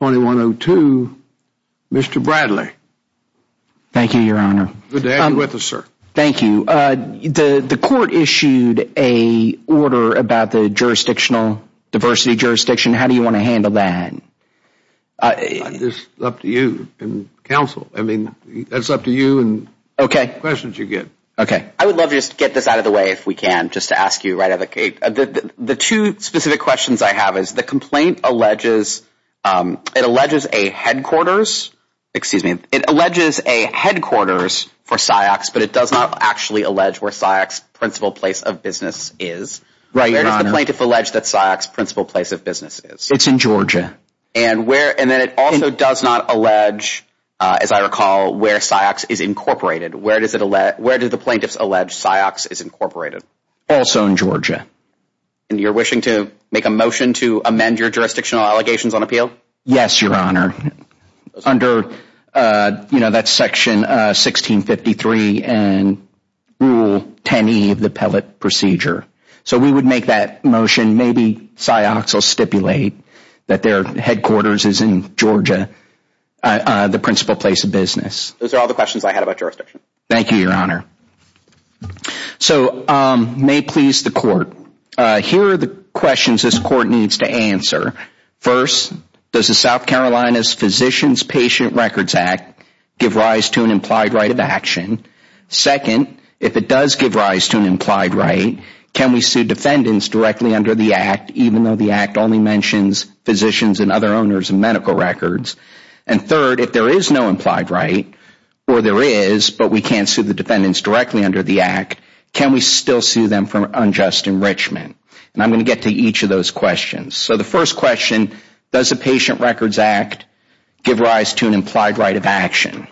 2102. Mr. Bradley. Thank you, Your Honor. Good to have you with us, sir. Thank you. The court issued an order about the jurisdictional diversity jurisdiction. How do you want to handle that? It's up to you and counsel. I mean, that's up to you and the questions you get. Okay. I would love to just get this out of the way if we can, just to ask you right out of the gate. The two specific questions I have is the complaint alleges, it alleges a headquarters, excuse me, it alleges a headquarters for Ciox, but it does not actually allege where Ciox principal place of business is. Right, Your Honor. Where does the plaintiff allege that Ciox principal place of business is? It's in Georgia. And where, and then it also does not allege, as I recall, where Ciox is incorporated. Where does it, where do the plaintiffs allege Ciox is incorporated? Also in Georgia. And you're wishing to make a motion to amend your jurisdictional allegations on appeal? Yes, Your Honor. Under, you know, that section 1653 and Rule 10E of the Pellet Procedure. So we would make that motion. Maybe Ciox will stipulate that their headquarters is in Georgia, the principal place of business. Those are all the questions I had about jurisdiction. Thank you, Your Honor. So may it please the court. Here are the questions this court needs to answer. First, does the South Carolina's Physicians Patient Records Act give rise to an implied right of action? Second, if it does give rise to an implied right, can we sue defendants directly under the act, even though the act only mentions physicians and other owners of medical records? And third, if there is no implied right, or there is, but we can't sue the defendants directly under the act, can we still sue them for unjust enrichment? And I'm going to get to each of those questions. So the first question, does the Patient Records Act give rise to an implied right of action?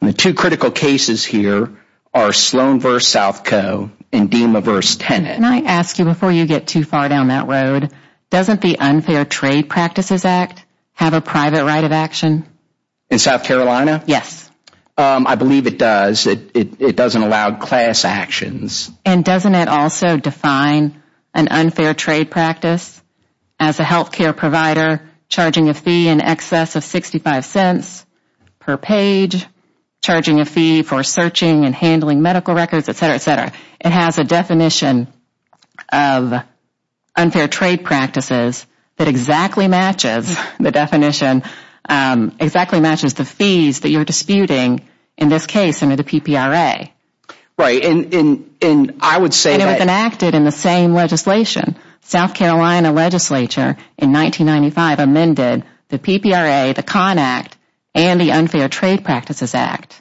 The two critical cases here are Sloan v. South Co. and DEMA v. Tenet. Can I ask you, before you get too far down that road, doesn't the Unfair Trade Practices Act have a private right of action? In South Carolina? Yes. I believe it does. It doesn't allow class actions. And doesn't it also define an unfair trade practice as a health care provider charging a fee in excess of $0.65 per page, charging a fee for searching and handling medical records, et cetera, et cetera? It has a definition of unfair trade practices that exactly matches the definition, exactly matches the fees that you are disputing in this case under the PPRA. Right. And I would say that even acted in the same legislation. South Carolina legislature in 1995 amended the PPRA, the CON Act, and the Unfair Trade Practices Act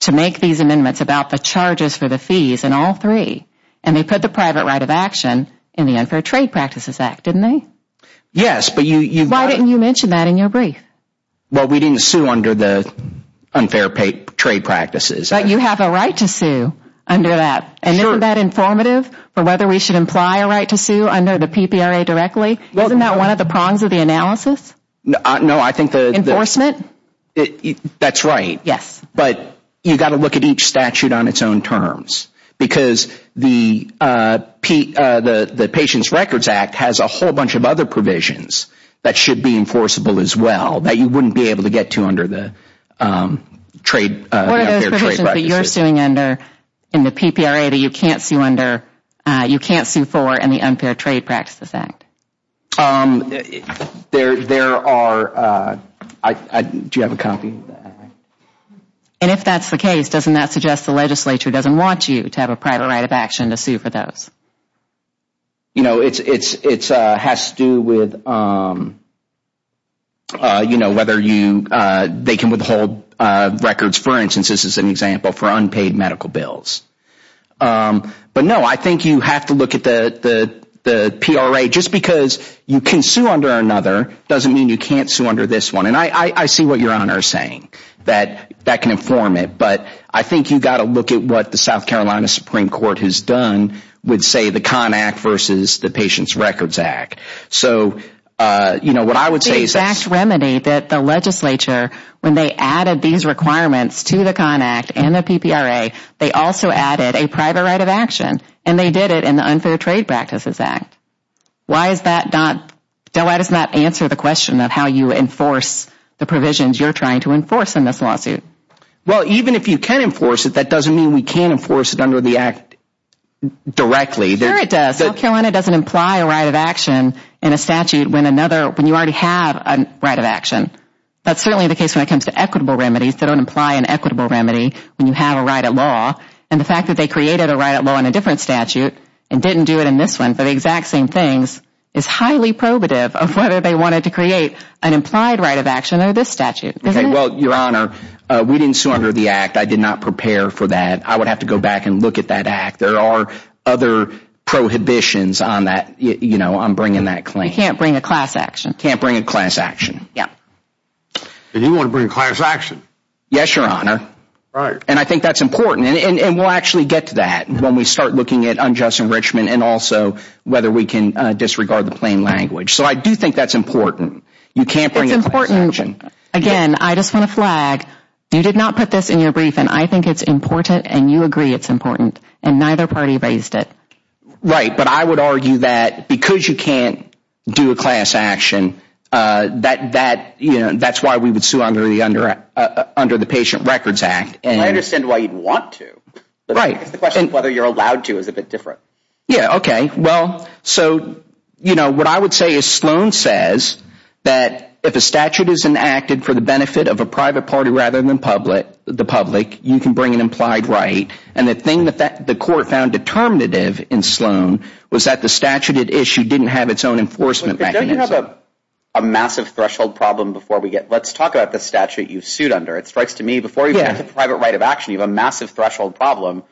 to make these amendments about the charges for the fees in all three. And they put the private right of action in the Unfair Trade Practices Act, didn't they? Yes. Why didn't you mention that in your brief? Well, we didn't sue under the Unfair Trade Practices Act. But you have a right to sue under that. And isn't that informative for whether we should imply a right to sue under the PPRA directly? Isn't that one of the prongs of the analysis? No, I think the Enforcement? That's right. Yes. But you've got to look at each statute on its own terms. Because the Patients Records Act has a whole bunch of other provisions that should be enforceable as well that you wouldn't be able to get to under the Unfair Trade Practices Act. So the provisions that you're suing under in the PPRA that you can't sue for in the Unfair Trade Practices Act? There are. Do you have a copy of that? And if that's the case, doesn't that suggest the legislature doesn't want you to have a private right of action to sue for those? You know, it has to do with whether they can withhold records. For instance, this is an example for unpaid medical bills. But no, I think you have to look at the PRA. Just because you can sue under another doesn't mean you can't sue under this one. And I see what your Honor is saying. That can inform it. But I think you've got to look at what the South Carolina Supreme Court has done with, say, the Conn Act versus the Patients Records Act. So what I would say is that the legislature, when they added these requirements to the PRA and the PPRA, they also added a private right of action. And they did it in the Unfair Trade Practices Act. Why is that not? Why doesn't that answer the question of how you enforce the provisions you're trying to enforce in this lawsuit? Well, even if you can enforce it, that doesn't mean we can't enforce it under the act directly. Sure it does. South Carolina doesn't imply a right of action in a statute when another when you already have a right of action. That's certainly the case when it comes to equitable remedy, when you have a right of law. And the fact that they created a right of law in a different statute and didn't do it in this one for the exact same things is highly probative of whether they wanted to create an implied right of action under this statute. Isn't it? Well, your Honor, we didn't sue under the act. I did not prepare for that. I would have to go back and look at that act. There are other prohibitions on that. You know, I'm bringing that claim. You can't bring a class action. You can't bring a class action. Yeah. And you want to bring a class action? Yes, your Honor. And I think that's important. And we'll actually get to that when we start looking at unjust enrichment and also whether we can disregard the plain language. So I do think that's important. You can't bring a class action. It's important. Again, I just want to flag, you did not put this in your brief and I think it's important and you agree it's important. And neither party raised it. Right. But I would argue that because you can't do a class action, that, you know, that's why we would sue under the Patient Records Act. I understand why you'd want to. Right. It's the question of whether you're allowed to is a bit different. Yeah. Okay. Well, so, you know, what I would say is Sloan says that if a statute is enacted for the benefit of a private party rather than the public, you can bring an implied right. And the thing that the court found determinative in Sloan was that the statute it issued didn't have its own enforcement mechanism. We have a massive threshold problem before we get, let's talk about the statute you've sued under. It strikes to me before you have the private right of action, you have a massive threshold problem,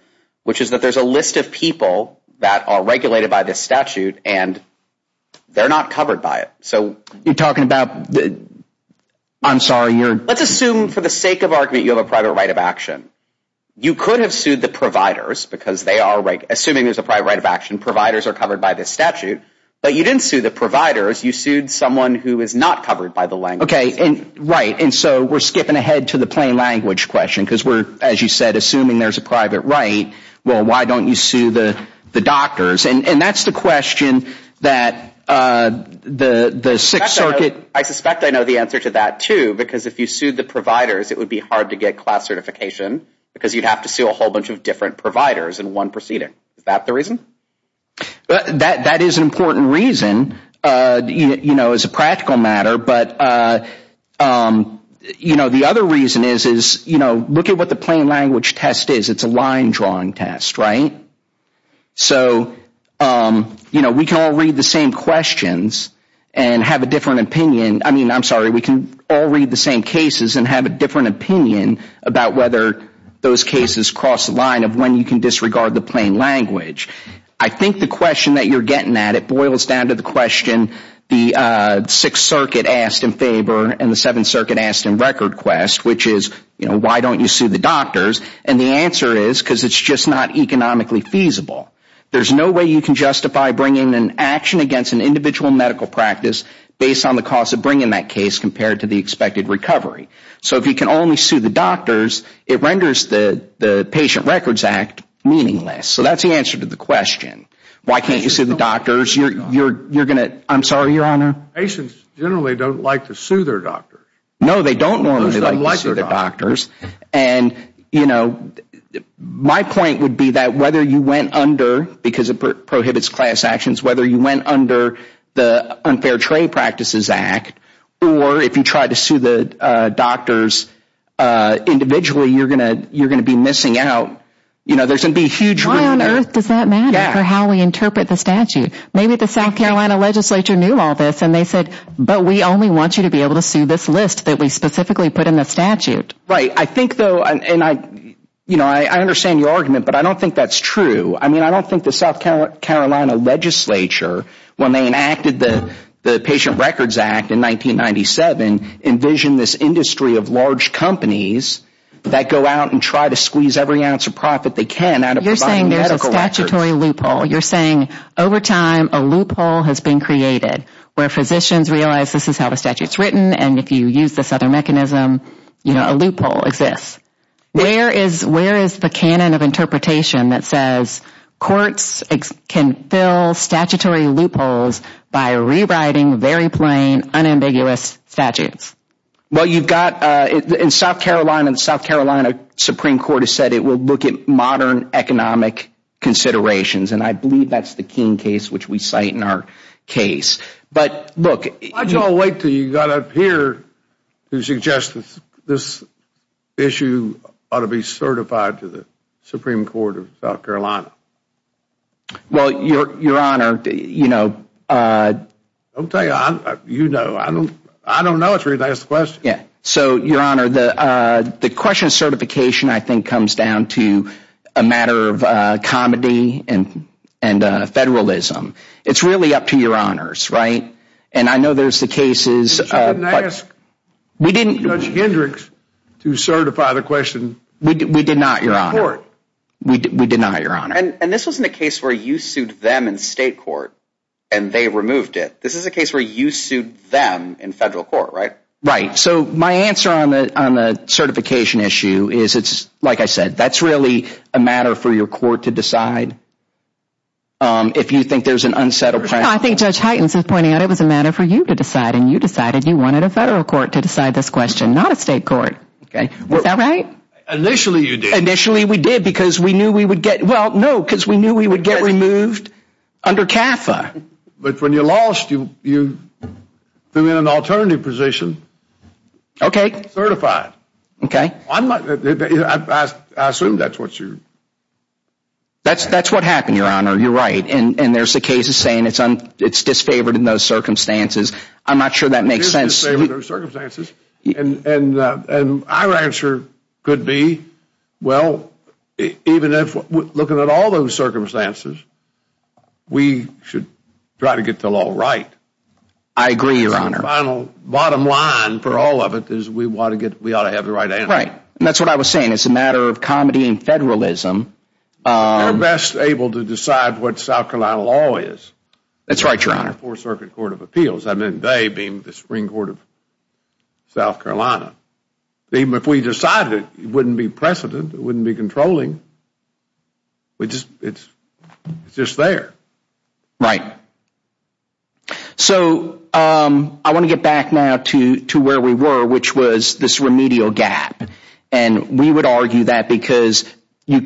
which is that there's a list of people that are regulated by this statute and they're not covered by it. So you're talking about the, I'm sorry, you're. Let's assume for the sake of argument, you have a private right of action. You could have sued the providers because they are assuming there's a private right of action. Providers are covered by this statute. But you didn't sue the providers. You sued someone who is not covered by the language. Okay. Right. And so we're skipping ahead to the plain language question because we're, as you said, assuming there's a private right. Well, why don't you sue the doctors? And that's the question that the Sixth Circuit. I suspect I know the answer to that, too, because if you sued the providers, it would be hard to get class certification because you'd have to sue a whole bunch of different providers in one proceeding. Is that the reason? That is an important reason, you know, as a practical matter. But, you know, the other reason is, is, you know, look at what the plain language test is. It's a line drawing test, right? So, you know, we can all read the same questions and have a different opinion. I mean, I'm sorry, we can all read the same cases and have a different opinion about whether those cases cross the line of when you can disregard the plain language. I think the question that you're getting at, it boils down to the question the Sixth Circuit asked in favor and the Seventh Circuit asked in record quest, which is, you know, why don't you sue the doctors? And the answer is because it's just not economically feasible. There's no way you can justify bringing an action against an individual medical practice based on the cost of bringing that case compared to the expected recovery. So if you can only do that, it renders the Patient Records Act meaningless. So that's the answer to the question. Why can't you sue the doctors? You're going to, I'm sorry, Your Honor? Patients generally don't like to sue their doctors. No, they don't normally like to sue their doctors. And, you know, my point would be that whether you went under, because it prohibits class actions, whether you went under the you're going to be missing out, you know, there's going to be a huge Why on earth does that matter for how we interpret the statute? Maybe the South Carolina Legislature knew all this and they said, but we only want you to be able to sue this list that we specifically put in the statute. Right. I think, though, and I, you know, I understand your argument, but I don't think that's true. I mean, I don't think the South Carolina Legislature, when they enacted the Patient Records Act in 1997, envisioned this industry of large companies that go out and try to squeeze every ounce of profit they can out of providing medical records. You're saying there's a statutory loophole. You're saying over time a loophole has been created where physicians realize this is how the statute is written. And if you use this other mechanism, you know, a loophole exists. Where is where is the canon of interpretation that says courts can fill statutory loopholes by rewriting very plain, unambiguous statutes? Well, you've got in South Carolina, the South Carolina Supreme Court has said it will look at modern economic considerations. And I believe that's the keying case, which we cite in our case. But look, Why did you all wait until you got up here to suggest that this issue ought to be certified to the Supreme Court of South Carolina? Well, Your Honor, you know, I'll tell you, you know, I don't know. It's a really nice question. So, Your Honor, the question of certification, I think, comes down to a matter of comedy and federalism. It's really up to Your Honors, right? And I know there's the cases, but But you didn't ask Judge Hendricks to certify the question. We did not, Your Honor. We did not, Your Honor. And this wasn't a case where you sued them in state court and they removed it. This is a case where you sued them in federal court, right? Right. So my answer on the certification issue is it's, like I said, that's really a matter for your court to decide. If you think there's an unsettled premise. I think Judge Heitens is pointing out it was a matter for you to decide. And you decided you wanted a federal court to decide this question, not a state court. Was that right? Initially, you did. Initially, we did, because we knew we would get, well, no, because we knew we would get removed under CAFA. But when you lost, you threw in an alternative position. Okay. Certified. Okay. I'm not, I assume that's what you. That's what happened, Your Honor. You're right. And there's the cases saying it's disfavored in those circumstances. I'm not sure that makes sense. Disfavored in those circumstances. And our answer could be, well, even if, looking at all those circumstances, we should try to get the law right. I agree, Your Honor. That's the final bottom line for all of it is we want to get, we ought to have the right answer. Right. And that's what I was saying. It's a matter of comedy and federalism. We're best able to decide what South Carolina law is. That's right, Your Honor. And our Fourth Circuit Court of Appeals, I mean, they being the Supreme Court of South Carolina, even if we decided it, it wouldn't be precedent, it wouldn't be controlling. We just, it's just there. Right. So I want to get back now to where we were, which was this remedial gap. And we would bring a class action. You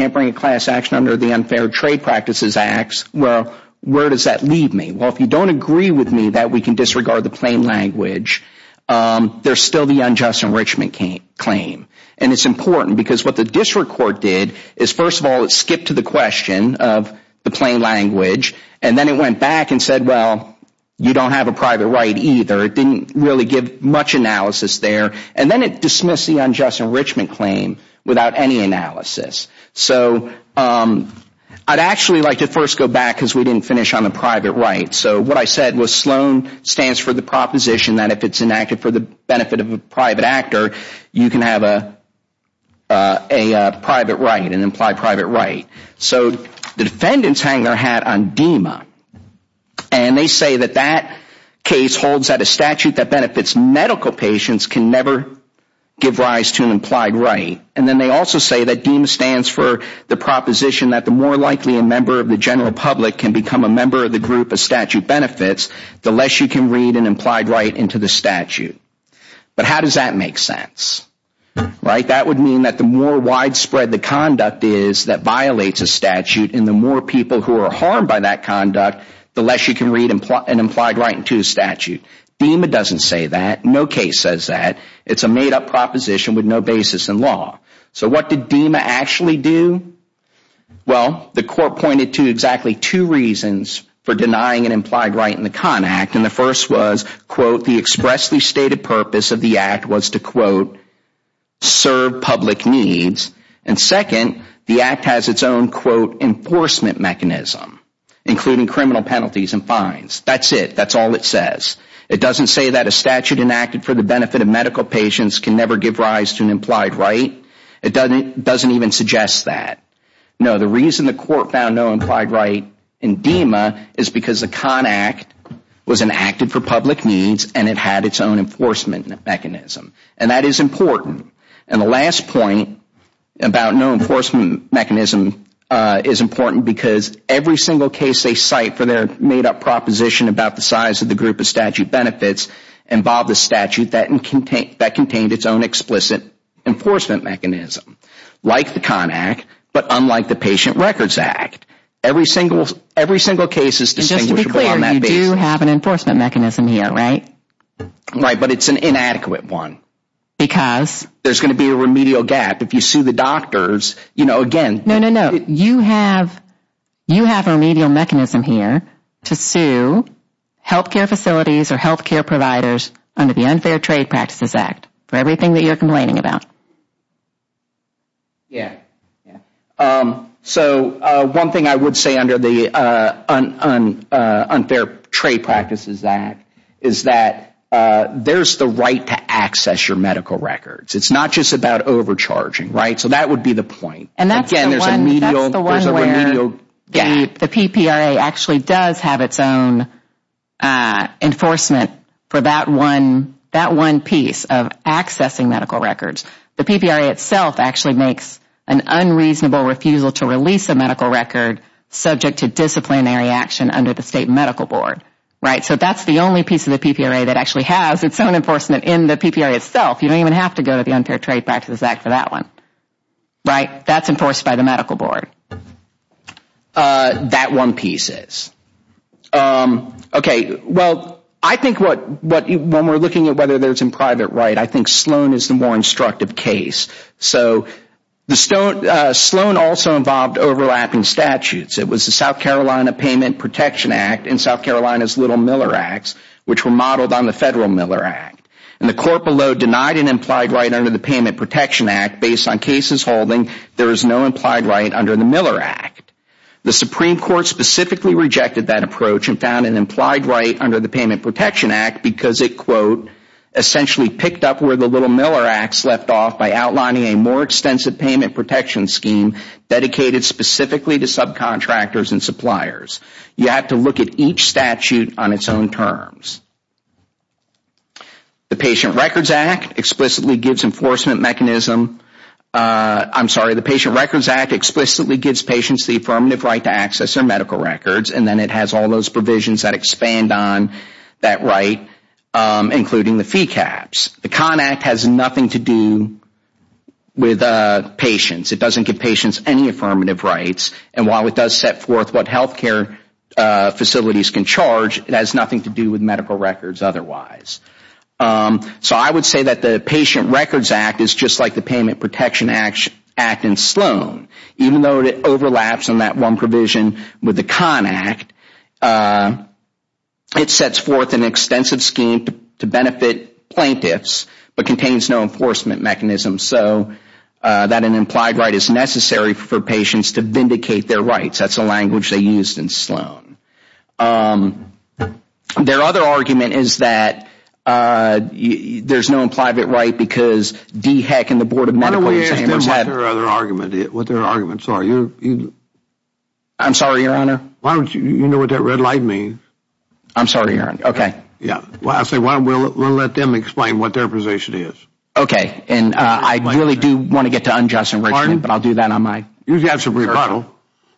can't bring a class action under the Unfair Trade Practices Act. Well, where does that leave me? Well, if you don't agree with me that we can disregard the plain language, there's still the unjust enrichment claim. And it's important because what the district court did is, first of all, it skipped to the question of the plain language. And then it went back and said, well, you don't have a private right either. It didn't really give much analysis there. And then it dismissed the unjust enrichment claim without any analysis. So I'd actually like to first go back because we didn't finish on the private right. So what I said was Sloan stands for the proposition that if it's enacted for the benefit of a private actor, you can have a private right, an implied private right. So the defendants hang their hat on DEMA. And they say that that case holds that a statute that benefits medical patients can never give rise to an implied right. And then they also say that DEMA stands for the proposition that the more likely a member of the general public can become a member of the group a statute benefits, the less you can read an implied right into the statute. But how does that make sense, right? That would mean that the more widespread the conduct is that violates a statute and the more people who are harmed by that conduct, the less you can read an implied right into a statute. DEMA doesn't say that. No case says that. It's a made-up proposition with no basis in law. So what did DEMA actually do? Well, the court pointed to exactly two reasons for denying an implied right in the CON Act. And the first was, quote, the expressly stated purpose of the act was to, quote, serve public needs. And second, the act has its own, quote, enforcement mechanism, including criminal penalties and fines. That's it. That's all it says. It doesn't say that a statute enacted for the benefit of medical patients can never give rise to an implied right. It doesn't even suggest that. No, the reason the court found no implied right in DEMA is because the CON Act was enacted for public needs and it had its own enforcement mechanism. And that is important. And the last point about no enforcement mechanism is important because every single case they involved a statute that contained its own explicit enforcement mechanism, like the CON Act, but unlike the Patient Records Act. Every single case is distinguishable on that basis. And just to be clear, you do have an enforcement mechanism here, right? Right. But it's an inadequate one. Because? There's going to be a remedial gap. If you sue the doctors, you know, again, No, no, no. You have a remedial mechanism here to sue health care facilities or health care providers under the Unfair Trade Practices Act for everything that you're complaining about. Yeah, yeah. So one thing I would say under the Unfair Trade Practices Act is that there's the right to access your medical records. It's not just about overcharging, right? So that would be the point. Again, there's a remedial gap. That's the one where the PPRA actually does have its own enforcement for that one piece of accessing medical records. The PPRA itself actually makes an unreasonable refusal to release a medical record subject to disciplinary action under the state medical board, right? So that's the only piece of the PPRA that actually has its own enforcement in the PPRA itself. You don't even have to go to the Unfair Trade Practices Act for that one, right? That's enforced by the medical board. That one piece is. Okay, well, I think when we're looking at whether there's a private right, I think Sloan is the more instructive case. So Sloan also involved overlapping statutes. It was the South Carolina Payment Protection Act and South Carolina's Little Miller Acts, which were modeled on the Federal Miller Act. And the court below denied an implied right under the Payment Protection Act based on there is no implied right under the Miller Act. The Supreme Court specifically rejected that approach and found an implied right under the Payment Protection Act because it, quote, essentially picked up where the Little Miller Acts left off by outlining a more extensive payment protection scheme dedicated specifically to subcontractors and suppliers. You have to look at each statute on its own terms. The Patient Records Act explicitly gives enforcement mechanism. I'm sorry. The Patient Records Act explicitly gives patients the affirmative right to access their medical records, and then it has all those provisions that expand on that right, including the fee caps. The CON Act has nothing to do with patients. It doesn't give patients any affirmative rights. And while it does set forth what health care facilities can charge, it has nothing to do with medical records otherwise. So I would say that the Patient Records Act is just like the Payment Protection Act in Sloan. Even though it overlaps on that one provision with the CON Act, it sets forth an extensive scheme to benefit plaintiffs but contains no enforcement mechanism so that an implied right is necessary for patients to vindicate their rights. That's the language they used in Sloan. Their other argument is that there's no implied right because DHEC and the Board of Medical Examiner's have... Why don't we ask them what their other argument is, what their arguments are? I'm sorry, Your Honor. Why don't you know what that red light means? I'm sorry, Your Honor. Okay. I say we'll let them explain what their position is. Okay. And I really do want to get to unjust enrichment, but I'll do that on my... You've got some rebuttal.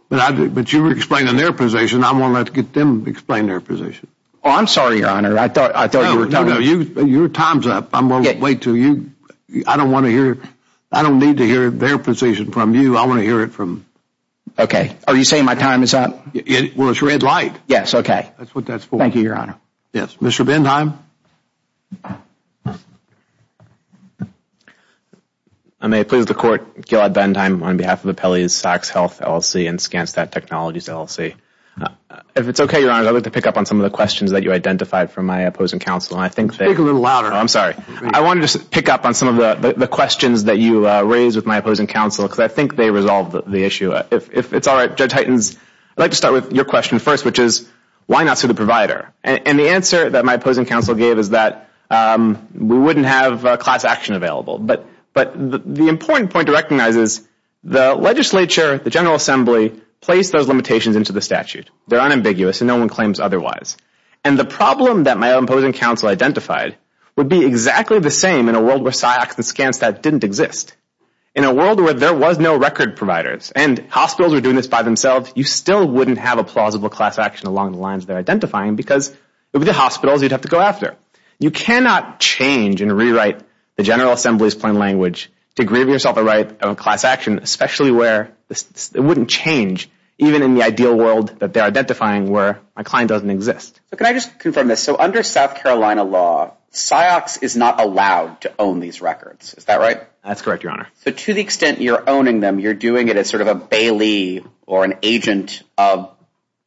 But you were explaining their position. I want to let them explain their position. Oh, I'm sorry, Your Honor. I thought you were telling... No, no, no. Your time's up. I'm going to wait until you... I don't want to hear... I don't need to hear their position from you. I want to hear it from... Okay. Are you saying my time is up? Well, it's red light. Yes, okay. That's what that's for. Thank you, Your Honor. Yes. Mr. Bentheim? I may please the Court. Gilad Bentheim on behalf of Appellee's Sox Health LLC and ScanStat Technologies LLC. If it's okay, Your Honor, I'd like to pick up on some of the questions that you identified from my opposing counsel. I think they... Speak a little louder. I'm sorry. I want to just pick up on some of the questions that you raised with my opposing counsel, because I think they resolved the issue. If it's all right, Judge Hytens, I'd like to start with your question first, which is why not sue the provider? And the answer that my opposing counsel gave is that we wouldn't have class action available. But the important point to recognize is the legislature, the General Assembly, placed those limitations into the statute. They're unambiguous, and no one claims otherwise. And the problem that my opposing counsel identified would be exactly the same in a world where Sox and ScanStat didn't exist. In a world where there was no record providers and hospitals were doing this by themselves, you still wouldn't have a plausible class action along the lines they're identifying because it would be the hospitals you'd have to go after. You cannot change and rewrite the General Assembly's plain language to grieve yourself the right of a class action, especially where it wouldn't change even in the ideal world that they're identifying where my client doesn't exist. So can I just confirm this? So under South Carolina law, Sox is not allowed to own these records. Is that right? That's correct, Your Honor. So to the extent you're owning them, you're doing it as sort of a bailee or an agent of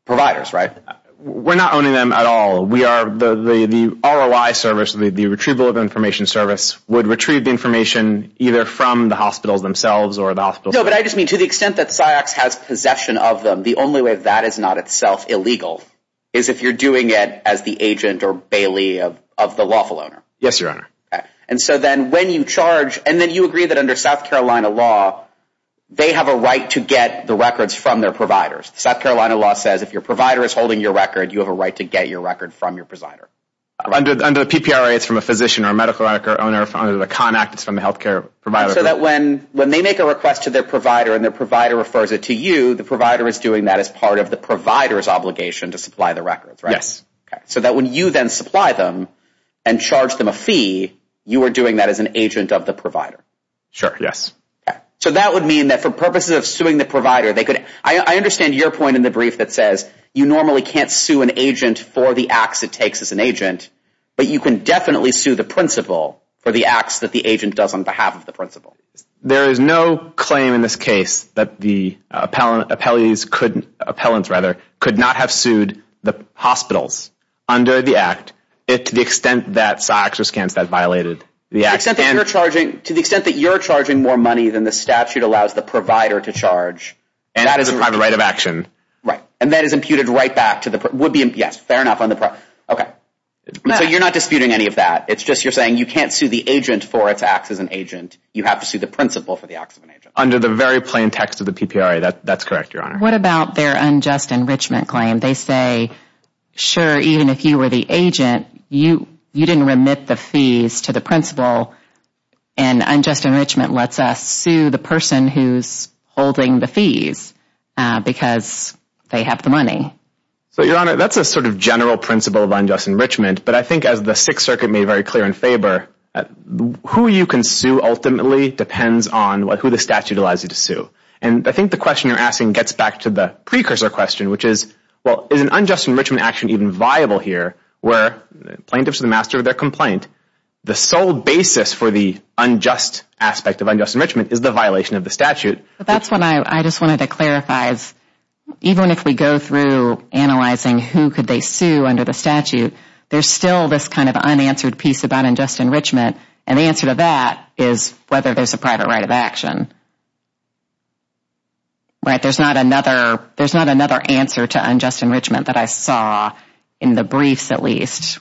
providers, right? We're not owning them at all. The ROI service, the retrieval of information service, would retrieve the information either from the hospitals themselves or the hospitals themselves. No, but I just mean to the extent that Sox has possession of them, the only way that is not itself illegal is if you're doing it as the agent or bailee of the lawful owner. Yes, Your Honor. And so then when you charge, and then you agree that under South Carolina law, they have a right to get the records from their providers. South Carolina law says if your provider is holding your record, you have a right to get your record from your provider. Under the PPRA, it's from a physician or a medical owner. Under the CON Act, it's from a health care provider. So that when they make a request to their provider and their provider refers it to you, the provider is doing that as part of the provider's obligation to supply the records, right? Yes. So that when you then supply them and charge them a fee, you are doing that as an agent of the provider. Sure, yes. So that would mean that for purposes of suing the provider, they could – I understand your point in the brief that says you normally can't sue an agent for the acts it takes as an agent, but you can definitely sue the principal for the acts that the agent does on behalf of the principal. There is no claim in this case that the appellants could not have sued the hospitals under the Act to the extent that Sox or Skanska has violated the Act. To the extent that you're charging more money than the statute allows the provider to charge. And that is a private right of action. Right. And that is imputed right back to the – yes, fair enough. Okay. So you're not disputing any of that. It's just you're saying you can't sue the agent for its acts as an agent. You have to sue the principal for the acts of an agent. Under the very plain text of the PPRA, that's correct, Your Honor. What about their unjust enrichment claim? They say, sure, even if you were the agent, you didn't remit the fees to the principal, and unjust enrichment lets us sue the person who's holding the fees because they have the money. So, Your Honor, that's a sort of general principle of unjust enrichment, but I think as the Sixth Circuit made very clear in favor, who you can sue ultimately depends on who the statute allows you to sue. And I think the question you're asking gets back to the precursor question, which is, well, is an unjust enrichment action even viable here where plaintiffs are the master of their complaint? The sole basis for the unjust aspect of unjust enrichment is the violation of the statute. That's what I just wanted to clarify is even if we go through analyzing who could they sue under the statute, there's still this kind of unanswered piece about unjust enrichment. And the answer to that is whether there's a private right of action. There's not another answer to unjust enrichment that I saw in the briefs, at least.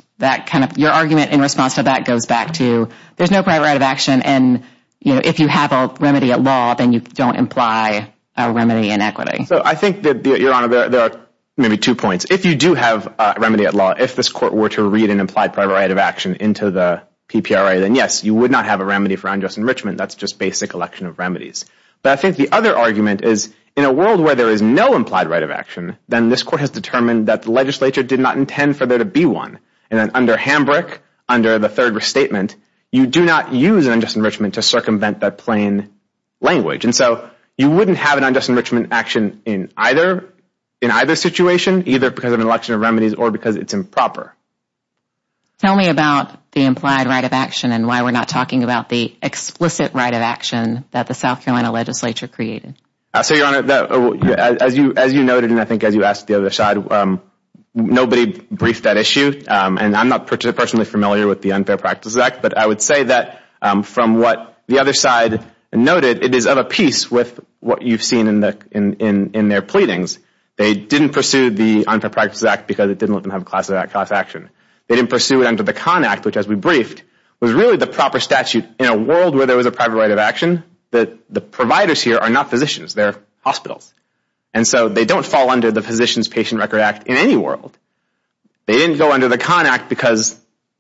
Your argument in response to that goes back to there's no private right of action, and if you have a remedy at law, then you don't imply a remedy in equity. So I think that, Your Honor, there are maybe two points. If you do have a remedy at law, if this court were to read an implied private right of action into the PPRA, then, yes, you would not have a remedy for unjust enrichment. That's just basic election of remedies. But I think the other argument is in a world where there is no implied right of action, then this court has determined that the legislature did not intend for there to be one. And then under Hambrick, under the third restatement, you do not use an unjust enrichment to circumvent that plain language. And so you wouldn't have an unjust enrichment action in either situation, either because of an election of remedies or because it's improper. Tell me about the implied right of action and why we're not talking about the explicit right of action that the South Carolina legislature created. So, Your Honor, as you noted and I think as you asked the other side, nobody briefed that issue, and I'm not personally familiar with the Unfair Practice Act. But I would say that from what the other side noted, it is of a piece with what you've seen in their pleadings. They didn't pursue the Unfair Practice Act because it didn't let them have class action. They didn't pursue it under the Con Act, which, as we briefed, was really the proper statute in a world where there was a private right of action. The providers here are not physicians. They're hospitals. And so they don't fall under the Physician's Patient Record Act in any world. They didn't go under the Con Act because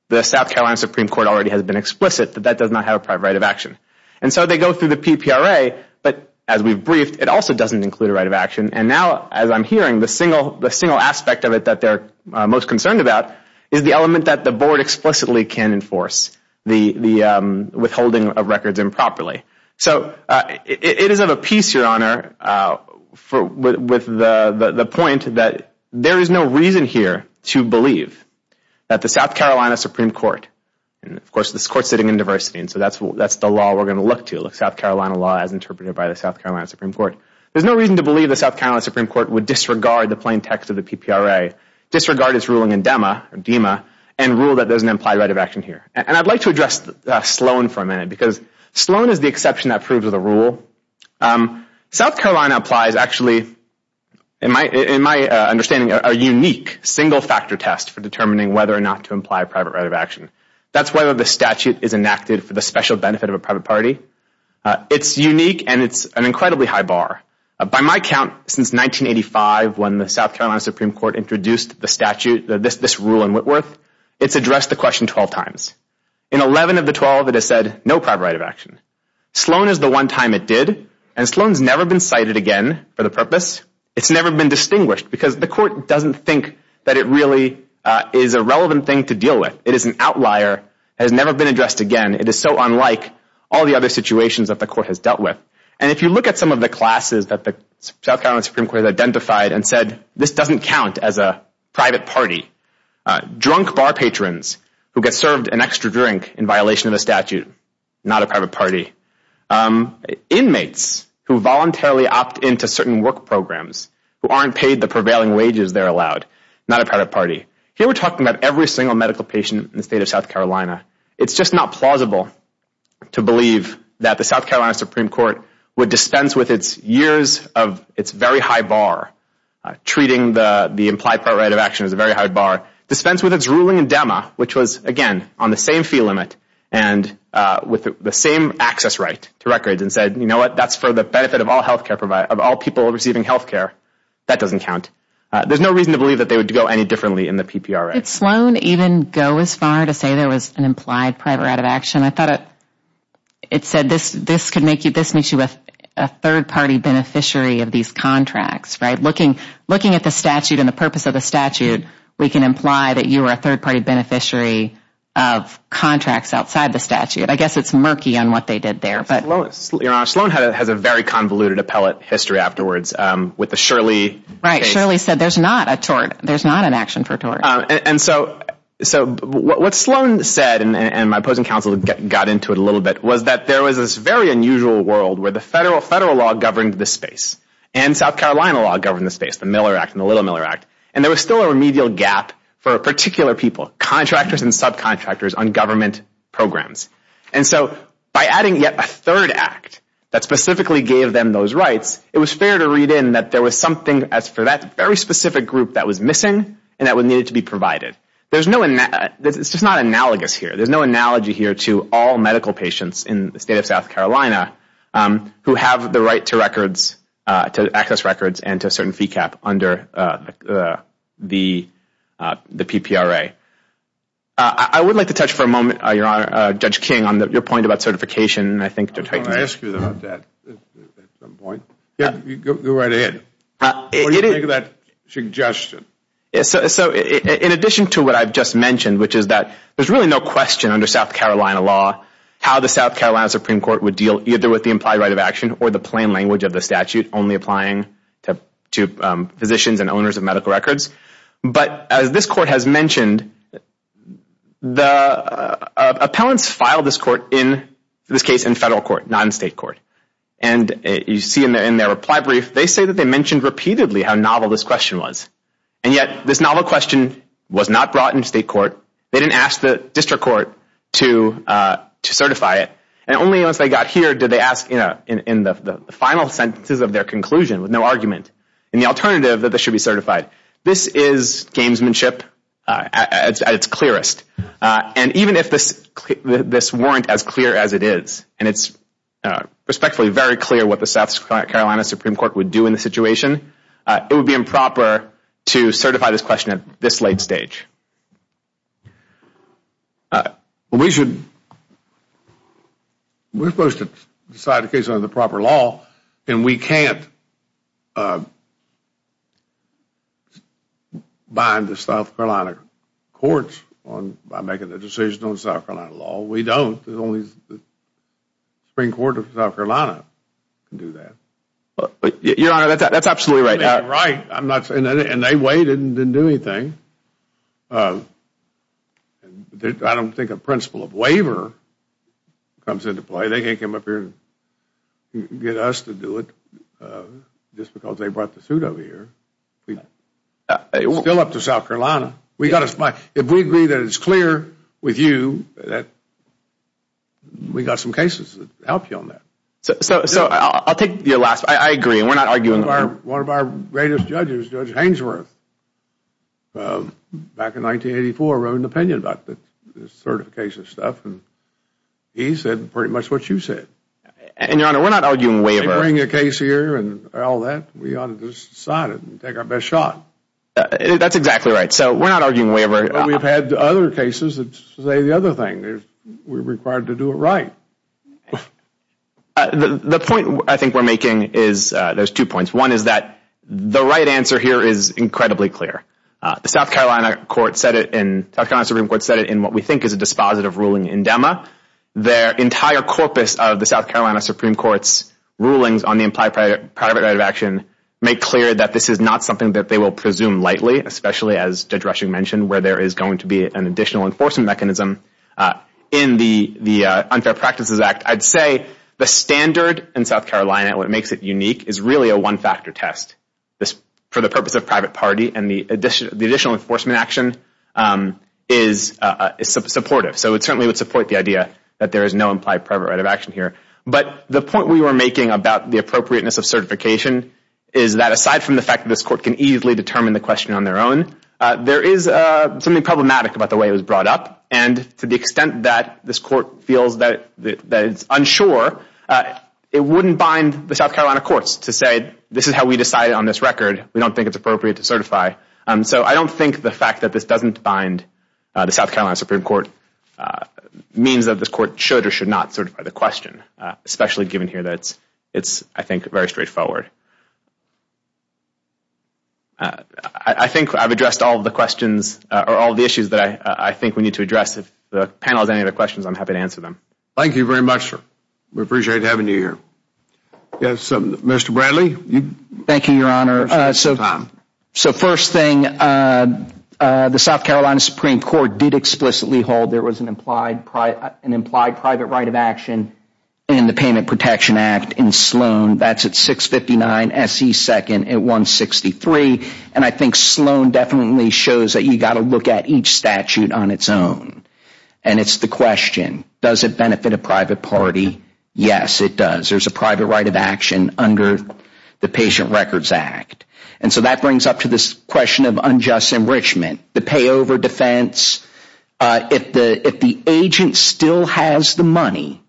the South Carolina Supreme Court already has been explicit that that does not have a private right of action. And so they go through the PPRA, but as we've briefed, it also doesn't include a right of action. And now, as I'm hearing, the single aspect of it that they're most concerned about is the element that the board explicitly can enforce, the withholding of records improperly. So it is of a piece, Your Honor, with the point that there is no reason here to believe that the South Carolina Supreme Court, and, of course, this court's sitting in diversity, and so that's the law we're going to look to, the South Carolina law as interpreted by the South Carolina Supreme Court. There's no reason to believe the South Carolina Supreme Court would disregard the plain text of the PPRA, disregard its ruling in DEMA, and rule that there's an implied right of action here. And I'd like to address Sloan for a minute because Sloan is the exception that proves the rule. South Carolina applies, actually, in my understanding, a unique single-factor test for determining whether or not to imply a private right of action. That's whether the statute is enacted for the special benefit of a private party. It's unique, and it's an incredibly high bar. By my count, since 1985, when the South Carolina Supreme Court introduced the statute, this rule in Whitworth, it's addressed the question 12 times. In 11 of the 12, it has said no private right of action. Sloan is the one time it did, and Sloan's never been cited again for the purpose. It's never been distinguished because the court doesn't think that it really is a relevant thing to deal with. It is an outlier. It has never been addressed again. It is so unlike all the other situations that the court has dealt with. And if you look at some of the classes that the South Carolina Supreme Court has identified and said, this doesn't count as a private party. Drunk bar patrons who get served an extra drink in violation of the statute, not a private party. Inmates who voluntarily opt into certain work programs who aren't paid the prevailing wages they're allowed, not a private party. Here we're talking about every single medical patient in the state of South Carolina. It's just not plausible to believe that the South Carolina Supreme Court would dispense with its years of its very high bar, treating the implied private right of action as a very high bar, dispense with its ruling in DEMA, which was, again, on the same fee limit and with the same access right to records, and said, you know what, that's for the benefit of all people receiving health care. That doesn't count. There's no reason to believe that they would go any differently in the PPRA. Did Sloan even go as far to say there was an implied private right of action? I thought it said this makes you a third-party beneficiary of these contracts. Looking at the statute and the purpose of the statute, we can imply that you are a third-party beneficiary of contracts outside the statute. I guess it's murky on what they did there. Sloan has a very convoluted appellate history afterwards with the Shirley case. Right, Shirley said there's not an action for tort. And so what Sloan said, and my opposing counsel got into it a little bit, was that there was this very unusual world where the federal law governed the space and South Carolina law governed the space, the Miller Act and the Little Miller Act, and there was still a remedial gap for particular people, contractors and subcontractors, on government programs. And so by adding yet a third act that specifically gave them those rights, it was fair to read in that there was something for that very specific group that was missing and that needed to be provided. It's just not analogous here. There's no analogy here to all medical patients in the state of South Carolina who have the right to access records and to a certain fee cap under the PPRA. I would like to touch for a moment, Judge King, on your point about certification. I was going to ask you about that at some point. Go right ahead. What do you make of that suggestion? In addition to what I've just mentioned, which is that there's really no question under South Carolina law how the South Carolina Supreme Court would deal either with the implied right of action or the plain language of the statute only applying to physicians and owners of medical records. But as this court has mentioned, the appellants filed this case in federal court, not in state court. And you see in their reply brief, they say that they mentioned repeatedly how novel this question was. And yet this novel question was not brought into state court. They didn't ask the district court to certify it. And only once they got here did they ask in the final sentences of their conclusion with no argument and the alternative that this should be certified. This is gamesmanship at its clearest. And even if this weren't as clear as it is, and it's respectfully very clear what the South Carolina Supreme Court would do in the situation, it would be improper to certify this question at this late stage. We're supposed to decide the case under the proper law, and we can't bind the South Carolina courts by making a decision on South Carolina law. We don't. Only the Supreme Court of South Carolina can do that. Your Honor, that's absolutely right. And they waited and didn't do anything. I don't think a principle of waiver comes into play. They can't come up here and get us to do it just because they brought the suit over here. It's still up to South Carolina. If we agree that it's clear with you, we got some cases that help you on that. So I'll take your last. I agree. We're not arguing. One of our greatest judges, Judge Hainsworth, back in 1984, wrote an opinion about the certification stuff, and he said pretty much what you said. And, Your Honor, we're not arguing waiver. They bring a case here and all that. We ought to just sign it and take our best shot. That's exactly right. So we're not arguing waiver. But we've had other cases that say the other thing. We're required to do it right. The point I think we're making is there's two points. One is that the right answer here is incredibly clear. The South Carolina Supreme Court said it in what we think is a dispositive ruling in DEMA. Their entire corpus of the South Carolina Supreme Court's rulings on the implied private right of action make clear that this is not something that they will presume lightly, especially as Judge Rushing mentioned where there is going to be an additional enforcement mechanism in the Unfair Practices Act. I'd say the standard in South Carolina, what makes it unique, is really a one-factor test for the purpose of private party and the additional enforcement action is supportive. So it certainly would support the idea that there is no implied private right of action here. But the point we were making about the appropriateness of certification is that, aside from the fact that this court can easily determine the question on their own, there is something problematic about the way it was brought up. And to the extent that this court feels that it's unsure, it wouldn't bind the South Carolina courts to say this is how we decided on this record. We don't think it's appropriate to certify. So I don't think the fact that this doesn't bind the South Carolina Supreme Court means that this court should or should not certify the question, especially given here that it's, I think, very straightforward. I think I've addressed all of the questions or all of the issues that I think we need to address. If the panel has any other questions, I'm happy to answer them. Thank you very much, sir. We appreciate having you here. Yes, Mr. Bradley. Thank you, Your Honor. So first thing, the South Carolina Supreme Court did explicitly hold there was an implied private right of action in the Payment Protection Act in Sloan. That's at 659 S.E. 2nd at 163. And I think Sloan definitely shows that you've got to look at each statute on its own. And it's the question, does it benefit a private party? Yes, it does. There's a private right of action under the Patient Records Act. And so that brings up to this question of unjust enrichment, the payover defense. If the agent still has the money,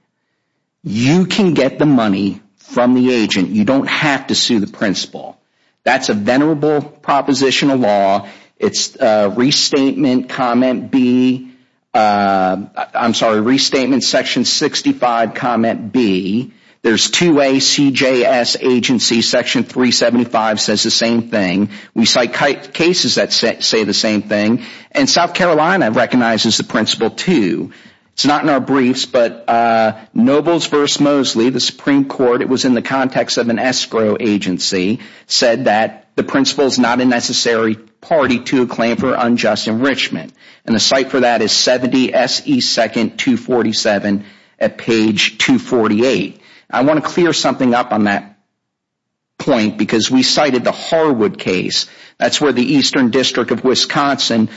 you can get the money from the agent. You don't have to sue the principal. That's a venerable proposition of law. It's Restatement Comment B. I'm sorry, Restatement Section 65 Comment B. There's 2A CJS Agency Section 375 says the same thing. We cite cases that say the same thing. And South Carolina recognizes the principle too. It's not in our briefs, but Nobles v. Mosley, the Supreme Court, it was in the context of an escrow agency, said that the principle is not a necessary party to a claim for unjust enrichment. And the cite for that is 70 S.E. 2nd 247 at page 248. I want to clear something up on that point because we cited the Harwood case. That's where the Eastern District of Wisconsin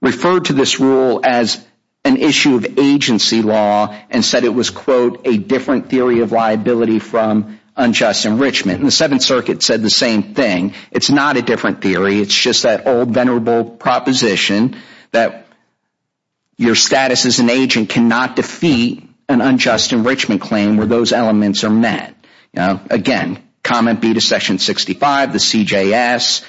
referred to this rule as an issue of agency law and said it was, quote, a different theory of liability from unjust enrichment. And the Seventh Circuit said the same thing. It's not a different theory. It's just that old venerable proposition that your status as an agent cannot defeat an unjust enrichment claim where those elements are met. Again, comment B to Section 65, the CJS.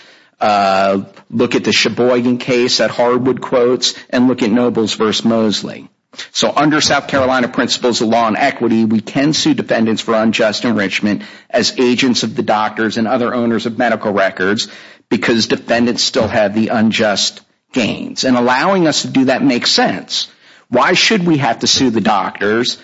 Look at the Sheboygan case that Harwood quotes and look at Nobles v. Mosley. So under South Carolina principles of law and equity, we can sue defendants for unjust enrichment as agents of the doctors and other owners of medical records because defendants still have the unjust gains. And allowing us to do that makes sense. Why should we have to sue the doctors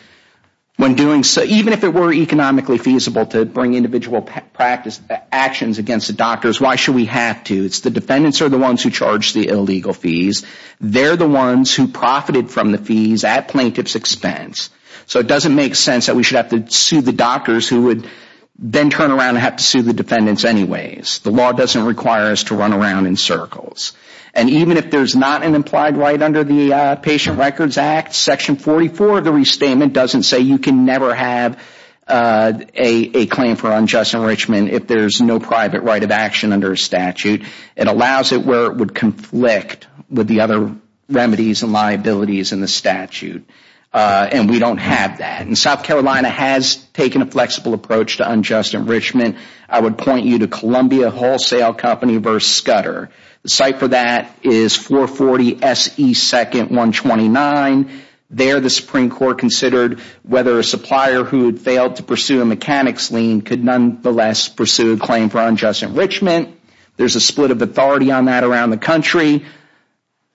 when doing so, even if it were economically feasible to bring individual practice actions against the doctors, why should we have to? It's the defendants are the ones who charge the illegal fees. They're the ones who profited from the fees at plaintiff's expense. So it doesn't make sense that we should have to sue the doctors who would then turn around and have to sue the defendants anyways. The law doesn't require us to run around in circles. And even if there's not an implied right under the Patient Records Act, Section 44 of the restatement doesn't say you can never have a claim for unjust enrichment if there's no private right of action under a statute. It allows it where it would conflict with the other remedies and liabilities in the statute. And we don't have that. And South Carolina has taken a flexible approach to unjust enrichment. I would point you to Columbia Wholesale Company v. Scudder. The site for that is 440 S.E. 2nd, 129. There the Supreme Court considered whether a supplier who had failed to pursue a mechanics lien could nonetheless pursue a claim for unjust enrichment. There's a split of authority on that around the country.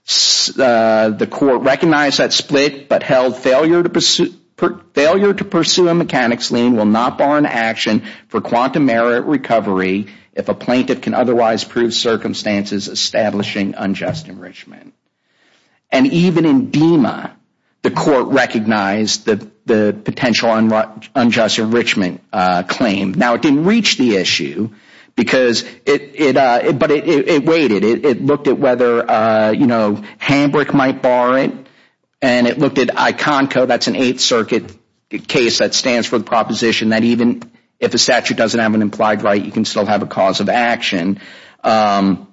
The court recognized that split but held failure to pursue a mechanics lien will not bar an action for quantum merit recovery if a plaintiff can otherwise prove circumstances establishing unjust enrichment. And even in DEMA, the court recognized the potential unjust enrichment claim. Now, it didn't reach the issue, but it waited. It looked at whether Hamburg might bar it. And it looked at ICONCO. That's an Eighth Circuit case that stands for the proposition that even if a statute doesn't have an implied right, you can still have a cause of action. And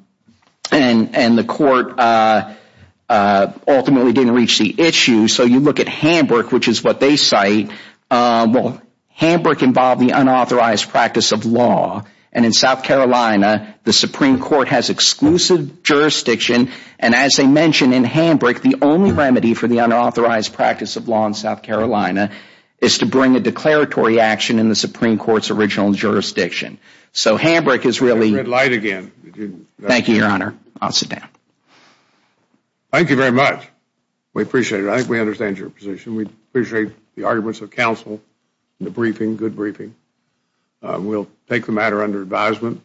the court ultimately didn't reach the issue. So you look at Hamburg, which is what they cite. Well, Hamburg involved the unauthorized practice of law. And in South Carolina, the Supreme Court has exclusive jurisdiction. And as I mentioned, in Hamburg, the only remedy for the unauthorized practice of law in South Carolina is to bring a declaratory action in the Supreme Court's original jurisdiction. So Hamburg is really... Red light again. Thank you, Your Honor. I'll sit down. Thank you very much. We appreciate it. I think we understand your position. We appreciate the arguments of counsel, the briefing, good briefing. We'll take the matter under advisement.